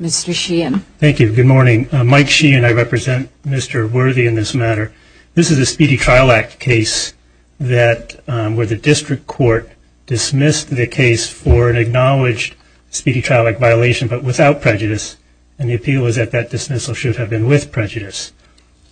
Mr. Sheehan. Thank you. Good morning. Mike Sheehan. I represent Mr. Worthy in this matter. This is a Speedy Trial Act case where the district court dismissed the case for an acknowledged Speedy Trial Act violation but without prejudice and the appeal is that that dismissal should have been with prejudice.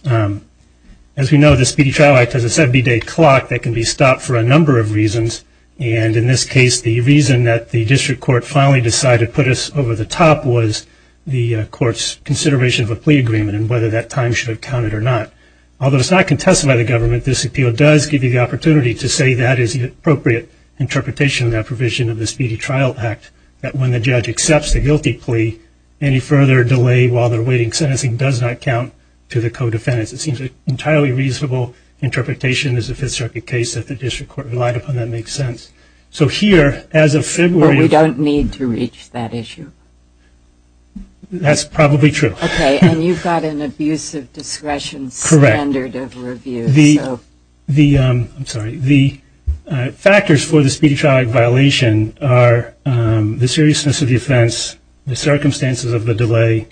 As we know, the Speedy Trial Act has a 70-day clock that can be stopped for a number of reasons, and in this case, the reason that the district court finally decided to put us over the top was the court's consideration of a plea agreement and whether that time should have counted or not. Although it's not contested by the government, this appeal does give you the opportunity to say that is the appropriate interpretation of that provision of the Speedy Trial Act, that when the judge accepts the guilty plea, any further delay while they're awaiting sentencing does not count to the co-defendants. It seems an entirely reasonable interpretation as a Fifth Circuit case that the district court relied upon that makes sense. So here, as of February… But we don't need to reach that issue. That's probably true. Okay, and you've got an abusive discretion standard of review. Correct. So… I'm sorry. The factors for the Speedy Trial Act violation are the seriousness of the offense, the circumstances of the delay,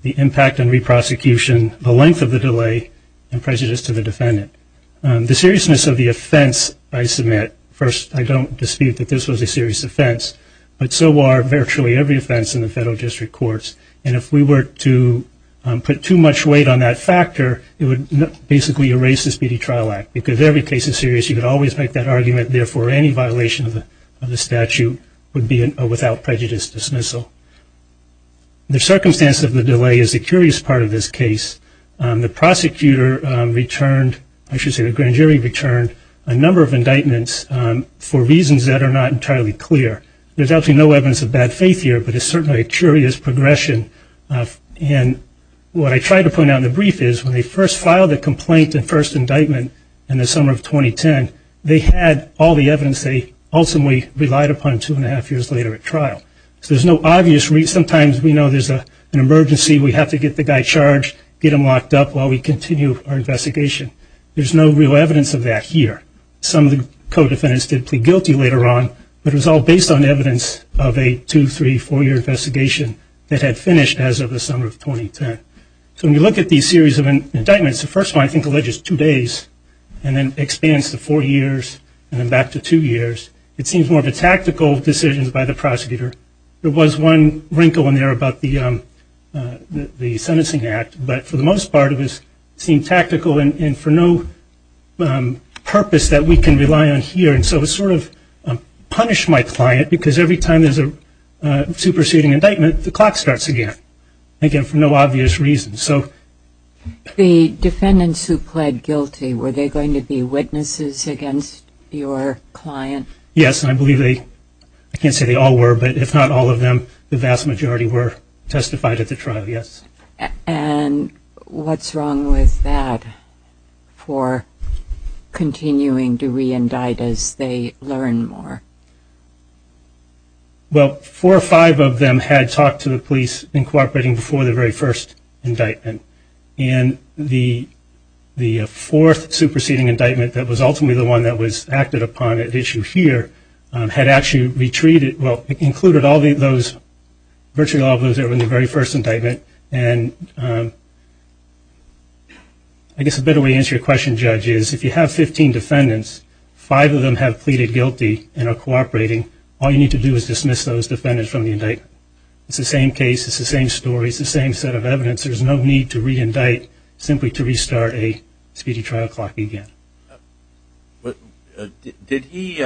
the impact on re-prosecution, the length of the delay, and prejudice to the defendant. The seriousness of the offense I submit. First, I don't dispute that this was a serious offense, but so are virtually every offense in the federal district courts. And if we were to put too much weight on that factor, it would basically erase the Speedy Trial Act because every case is serious. You could always make that argument. Therefore, any violation of the statute would be a without prejudice dismissal. The circumstances of the delay is the curious part of this case. The prosecutor returned, I should say the grand jury returned, a number of indictments for reasons that are not entirely clear. There's absolutely no evidence of bad faith here, but it's certainly a curious progression. And what I tried to point out in the brief is when they first filed the complaint and first indictment in the summer of 2010, they had all the evidence they ultimately relied upon two and a half years later at trial. So there's no obvious reason. Sometimes we know there's an emergency, we have to get the guy charged, get him locked up while we continue our investigation. There's no real evidence of that here. Some of the co-defendants did plead guilty later on, but it was all based on evidence of a two-, three-, four-year investigation that had finished as of the summer of 2010. So when you look at these series of indictments, the first one I think alleges two days, and then expands to four years, and then back to two years. It seems more of a tactical decision by the prosecutor. There was one wrinkle in there about the sentencing act, but for the most part it seemed tactical and for no purpose that we can rely on here. And so it sort of punished my client because every time there's a superseding indictment the clock starts again, again for no obvious reason. The defendants who pled guilty, were they going to be witnesses against your client? Yes, and I believe they, I can't say they all were, but if not all of them, the vast majority were testified at the trial, yes. And what's wrong with that for continuing to re-indict as they learn more? Well, four or five of them had talked to the police in cooperating before the very first indictment, and the fourth superseding indictment that was ultimately the one that was acted upon at issue here, had actually included virtually all of those that were in the very first indictment. And I guess a better way to answer your question, Judge, is if you have 15 defendants, five of them have pleaded guilty and are cooperating, all you need to do is dismiss those defendants from the indictment. It's the same case, it's the same story, it's the same set of evidence. There's no need to re-indict, simply to restart a speedy trial clock again. Did he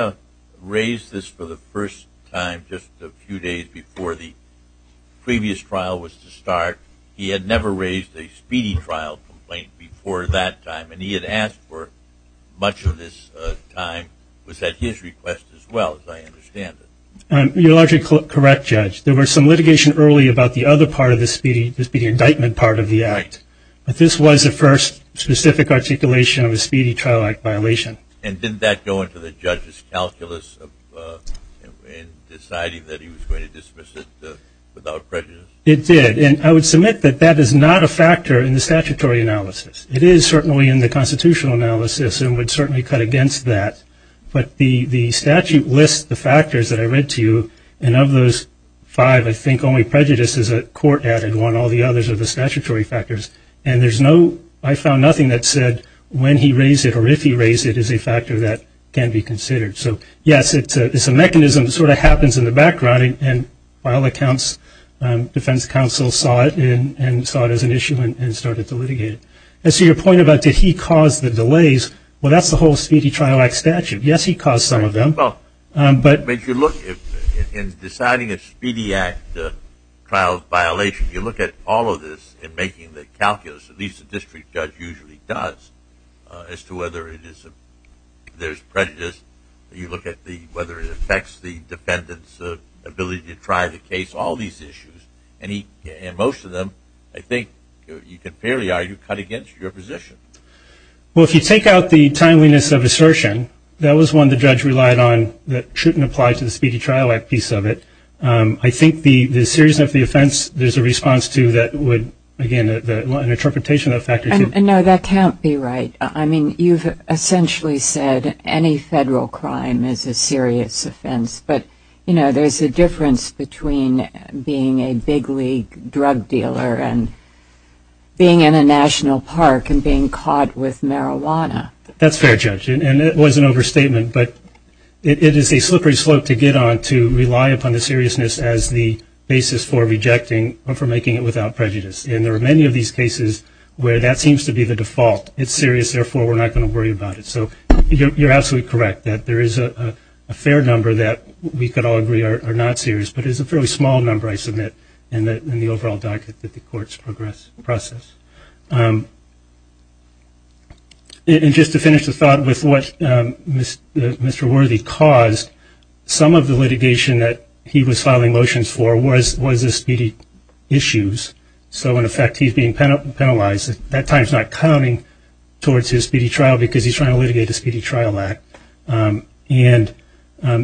raise this for the first time just a few days before the previous trial was to start? He had never raised a speedy trial complaint before that time, and he had asked for much of this time. Was that his request as well, as I understand it? You're largely correct, Judge. There was some litigation early about the other part of the speedy indictment part of the act, but this was the first specific articulation of a speedy trial act violation. And didn't that go into the judge's calculus in deciding that he was going to dismiss it without prejudice? It did, and I would submit that that is not a factor in the statutory analysis. It is certainly in the constitutional analysis and would certainly cut against that, but the statute lists the factors that I read to you, and of those five, I think only prejudice is a court-added one. All the others are the statutory factors, and I found nothing that said when he raised it or if he raised it is a factor that can be considered. So, yes, it's a mechanism that sort of happens in the background, and by all accounts, defense counsel saw it and saw it as an issue and started to litigate it. And so your point about did he cause the delays, well, that's the whole speedy trial act statute. Yes, he caused some of them. But if you look in deciding a speedy act trial violation, you look at all of this in making the calculus, at least the district judge usually does, as to whether there's prejudice. You look at whether it affects the defendant's ability to try the case, all these issues, and most of them I think you could fairly argue cut against your position. Well, if you take out the timeliness of assertion, that was one the judge relied on that shouldn't apply to the speedy trial act piece of it. I think the seriousness of the offense, there's a response to that would, again, an interpretation of that factor. No, that can't be right. I mean, you've essentially said any federal crime is a serious offense, but, you know, there's a difference between being a big league drug dealer and being in a national park and being caught with marijuana. That's fair, Judge, and it was an overstatement, but it is a slippery slope to get on to rely upon the seriousness as the basis for rejecting or for making it without prejudice. And there are many of these cases where that seems to be the default. It's serious, therefore we're not going to worry about it. So you're absolutely correct that there is a fair number that we could all agree are not serious, but it's a fairly small number, I submit, in the overall docket that the courts process. And just to finish the thought with what Mr. Worthy caused, some of the litigation that he was filing motions for was the speedy issues. So, in effect, he's being penalized. That time is not counting towards his speedy trial because he's trying to litigate the Speedy Trial Act. And the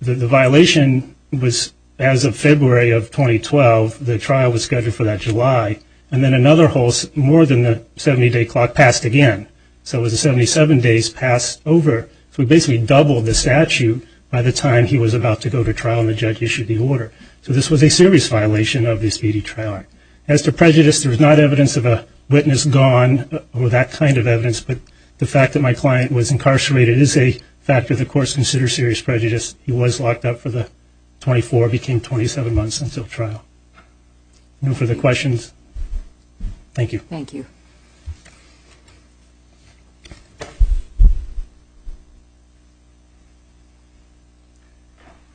violation was as of February of 2012. The trial was scheduled for that July. And then another more than a 70-day clock passed again. So it was 77 days passed over. So we basically doubled the statute by the time he was about to go to trial and the judge issued the order. So this was a serious violation of the Speedy Trial Act. As to prejudice, there is not evidence of a witness gone or that kind of evidence, but the fact that my client was incarcerated is a factor the courts consider serious prejudice. He was locked up for the 24, became 27 months until trial. No further questions. Thank you. Thank you.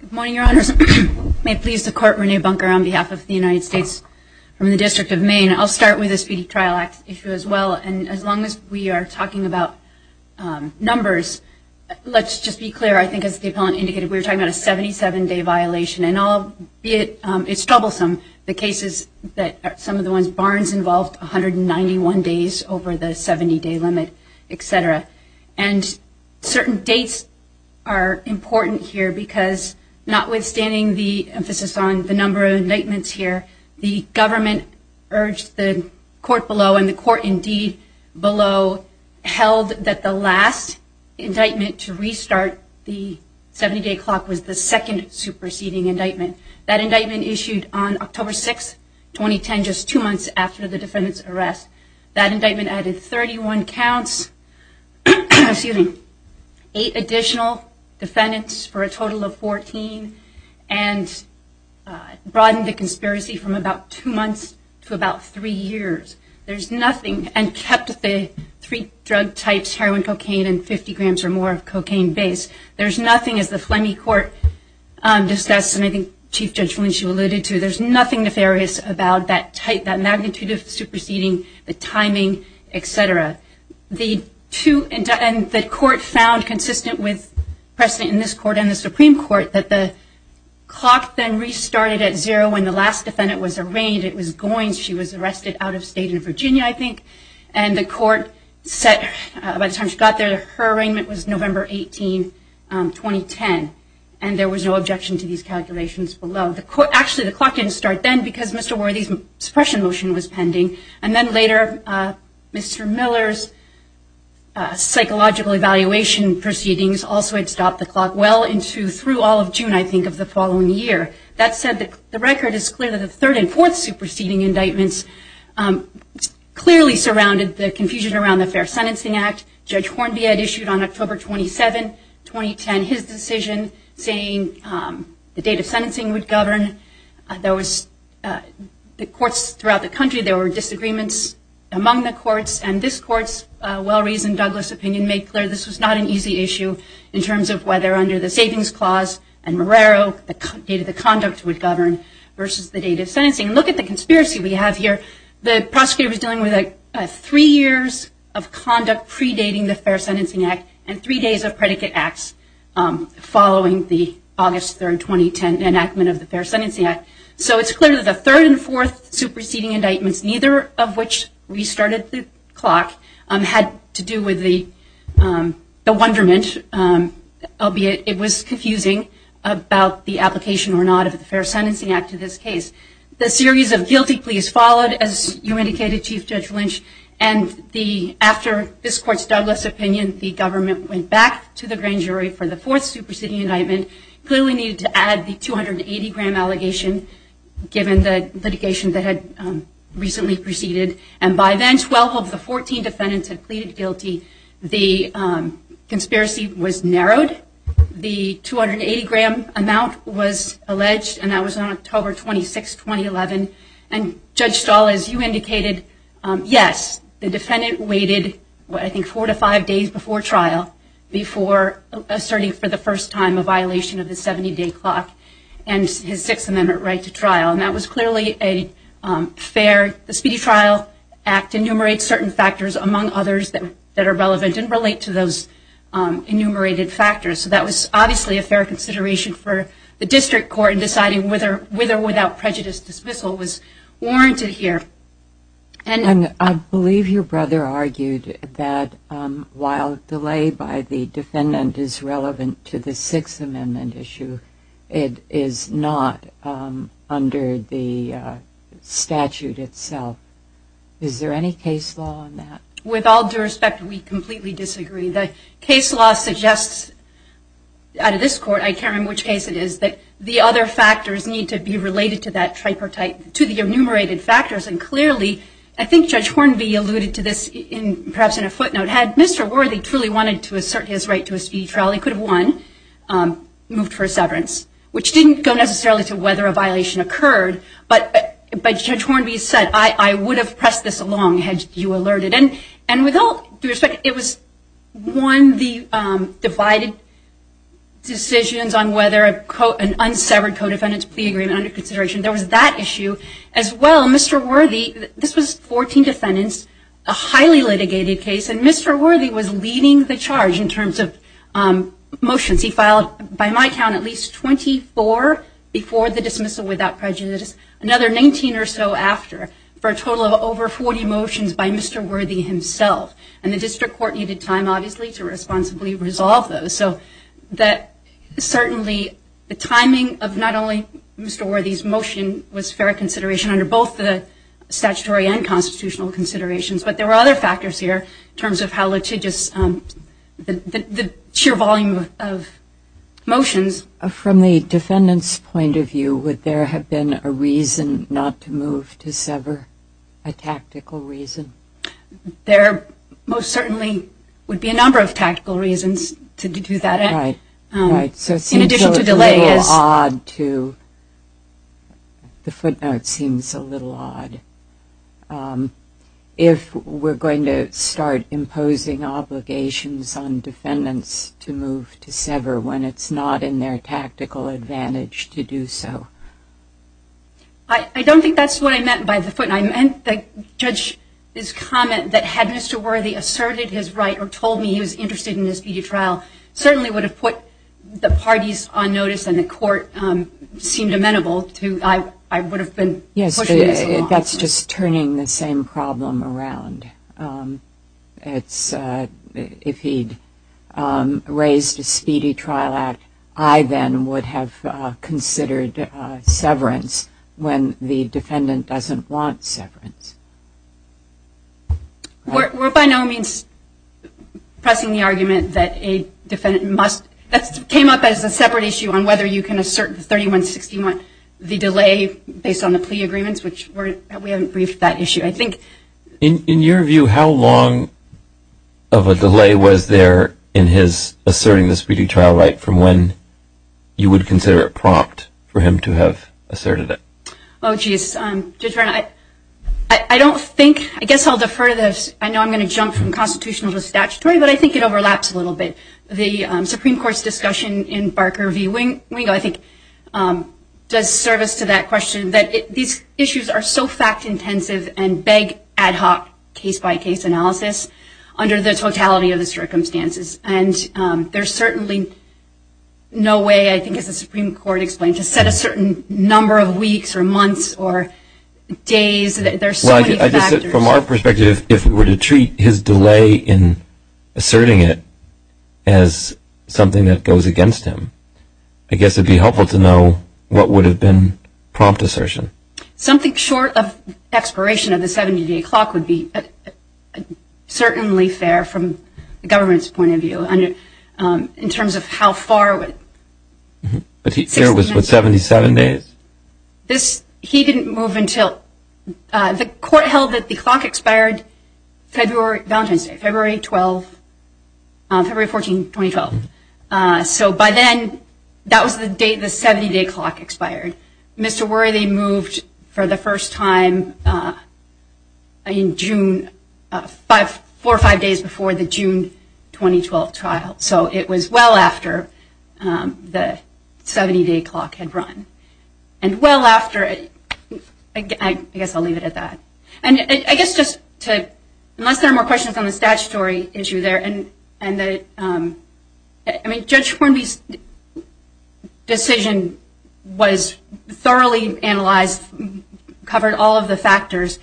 Good morning, Your Honors. May it please the Court, Renee Bunker on behalf of the United States from the District of Maine. I'll start with the Speedy Trial Act issue as well. And as long as we are talking about numbers, let's just be clear. I think as the appellant indicated, we were talking about a 77-day violation. And albeit it's troublesome, the cases that some of the ones Barnes involved, 191 days over the 70-day limit, et cetera. And certain dates are important here because notwithstanding the emphasis on the number of indictments here, the government urged the court below, and the court indeed below, held that the last indictment to restart the 70-day clock was the second superseding indictment. That indictment issued on October 6, 2010, just two months after the defendant's arrest. That indictment added 31 counts, excuse me, eight additional defendants for a total of 14, and broadened the conspiracy from about two months to about three years. There's nothing, and kept the three drug types, heroin, cocaine, and 50 grams or more of cocaine base. There's nothing, as the Fleming Court discussed, and I think Chief Judge Felicia alluded to, there's nothing nefarious about that magnitude of superseding, the timing, et cetera. The court found consistent with precedent in this court and the Supreme Court that the clock then restarted at zero when the last defendant was arraigned. She was arrested out of state in Virginia, I think. And the court set, by the time she got there, her arraignment was November 18, 2010. And there was no objection to these calculations below. Actually, the clock didn't start then because Mr. Worthy's suppression motion was pending. And then later, Mr. Miller's psychological evaluation proceedings also had stopped the clock well into through all of June, I think, of the following year. That said, the record is clear that the third and fourth superseding indictments clearly surrounded the confusion around the Fair Sentencing Act. Judge Hornby had issued on October 27, 2010, his decision saying the date of sentencing would govern. The courts throughout the country, there were disagreements among the courts. And this court's well-reasoned Douglas opinion made clear this was not an easy issue in terms of whether under the Savings Clause and Marrero, the date of the conduct would govern versus the date of sentencing. And look at the conspiracy we have here. The prosecutor was dealing with three years of conduct predating the Fair Sentencing Act and three days of predicate acts following the August 3, 2010 enactment of the Fair Sentencing Act. So it's clear that the third and fourth superseding indictments, neither of which restarted the clock, had to do with the wonderment, albeit it was confusing, about the application or not of the Fair Sentencing Act to this case. The series of guilty pleas followed, as you indicated, Chief Judge Lynch, and after this court's Douglas opinion, the government went back to the grand jury for the fourth superseding indictment, clearly needed to add the 280-gram allegation given the litigation that had recently proceeded. And by then, 12 of the 14 defendants had pleaded guilty. The conspiracy was narrowed. The 280-gram amount was alleged, and that was on October 26, 2011. And Judge Stahl, as you indicated, yes, the defendant waited, I think, four to five days before trial, before asserting for the first time a violation of the 70-day clock and his Sixth Amendment right to trial. And that was clearly a fair, the Speedy Trial Act enumerates certain factors, among others, that are relevant and relate to those enumerated factors. So that was obviously a fair consideration for the district court in deciding whether or without prejudice dismissal was warranted here. And I believe your brother argued that while delay by the defendant is relevant to the Sixth Amendment issue, it is not under the statute itself. Is there any case law on that? With all due respect, we completely disagree. The case law suggests out of this court, I can't remember which case it is, that the other factors need to be related to that tripartite, to the enumerated factors. And clearly, I think Judge Hornby alluded to this perhaps in a footnote, had Mr. Worthy truly wanted to assert his right to a speedy trial, he could have won, moved for a severance, which didn't go necessarily to whether a violation occurred. But Judge Hornby said, I would have pressed this along had you alerted. And with all due respect, it was one of the divided decisions on whether an unsevered co-defendant's plea agreement under consideration. There was that issue as well. Mr. Worthy, this was 14 defendants, a highly litigated case, and Mr. Worthy was leading the charge in terms of motions. He filed, by my count, at least 24 before the dismissal without prejudice, another 19 or so after for a total of over 40 motions by Mr. Worthy himself. And the district court needed time, obviously, to responsibly resolve those. So certainly, the timing of not only Mr. Worthy's motion was fair consideration under both the statutory and constitutional considerations, but there were other factors here in terms of how litigious the sheer volume of motions. From the defendant's point of view, would there have been a reason not to move to sever, a tactical reason? There most certainly would be a number of tactical reasons to do that. Right. So it seems a little odd to – the footnote seems a little odd. If we're going to start imposing obligations on defendants to move to sever when it's not in their tactical advantage to do so. I don't think that's what I meant by the footnote. I meant the judge's comment that had Mr. Worthy asserted his right or told me he was interested in this PD trial, certainly would have put the parties on notice and the court seemed amenable to – I would have been pushing this along. Yes, but that's just turning the same problem around. If he'd raised a speedy trial act, I then would have considered severance when the defendant doesn't want severance. We're by no means pressing the argument that a defendant must – that came up as a separate issue on whether you can assert the 3161, the delay based on the plea agreements, which we haven't briefed that issue. I think – In your view, how long of a delay was there in his asserting the speedy trial right from when you would consider it prompt for him to have asserted it? Oh, geez. Judge Brown, I don't think – I guess I'll defer to this. I know I'm going to jump from constitutional to statutory, but I think it overlaps a little bit. The Supreme Court's discussion in Barker v. Wingo, I think, does service to that question that these issues are so fact-intensive and beg ad hoc case-by-case analysis under the totality of the circumstances. And there's certainly no way, I think, as the Supreme Court explained, to set a certain number of weeks or months or days. There are so many factors. Well, I guess from our perspective, if we were to treat his delay in asserting it as something that goes against him, I guess it would be helpful to know what would have been prompt assertion. Something short of expiration of the 70-day clock would be certainly fair from the government's point of view in terms of how far it would – But here it was with 77 days? This – he didn't move until – the court held that the clock expired February – Valentine's Day, February 12, February 14, 2012. So by then, that was the day the 70-day clock expired. Mr. Worthy moved for the first time in June – four or five days before the June 2012 trial. So it was well after the 70-day clock had run. And well after – I guess I'll leave it at that. And I guess just to – unless there are more questions on the statutory issue there, and that – I mean, Judge Hornby's decision was thoroughly analyzed, covered all of the factors.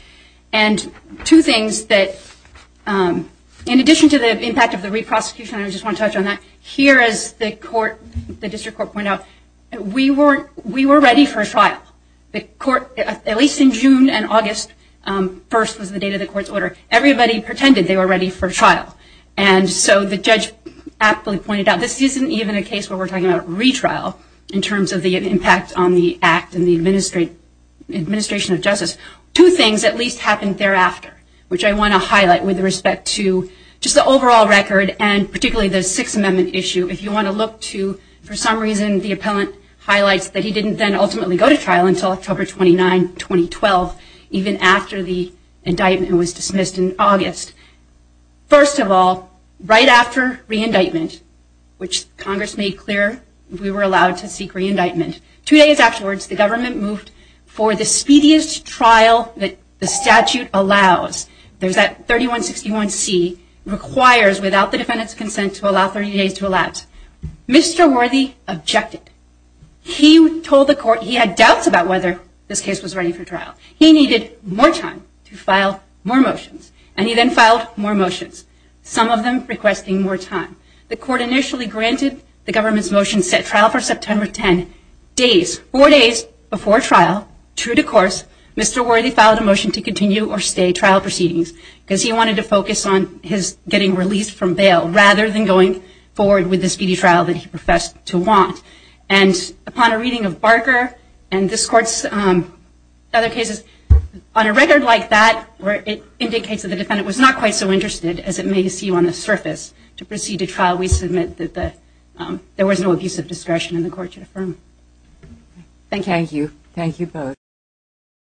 And two things that – in addition to the impact of the re-prosecution, I just want to touch on that. Here, as the court – the district court pointed out, we were ready for a trial. The court – at least in June and August 1st was the date of the court's order. Everybody pretended they were ready for trial. And so the judge aptly pointed out this isn't even a case where we're talking about retrial in terms of the impact on the act and the administration of justice. Two things at least happened thereafter, which I want to highlight with respect to just the overall record and particularly the Sixth Amendment issue. If you want to look to – for some reason, the appellant highlights that he didn't then ultimately go to trial until October 29, 2012, even after the indictment was dismissed in August. First of all, right after re-indictment, which Congress made clear we were allowed to seek re-indictment, two days afterwards the government moved for the speediest trial that the statute allows. There's that 3161C, requires without the defendant's consent to allow 30 days to elapse. Mr. Worthy objected. He told the court he had doubts about whether this case was ready for trial. He needed more time to file more motions. And he then filed more motions, some of them requesting more time. The court initially granted the government's motion set trial for September 10. Days – four days before trial, true to course, Mr. Worthy filed a motion to continue or stay trial proceedings because he wanted to focus on his getting released from bail rather than going forward with the speedy trial that he professed to want. And upon a reading of Barker and this court's other cases, on a record like that where it indicates that the defendant was not quite so interested as it may seem on the surface to proceed to trial, we submit that there was no abuse of discretion and the court should affirm. Thank you. Thank you both.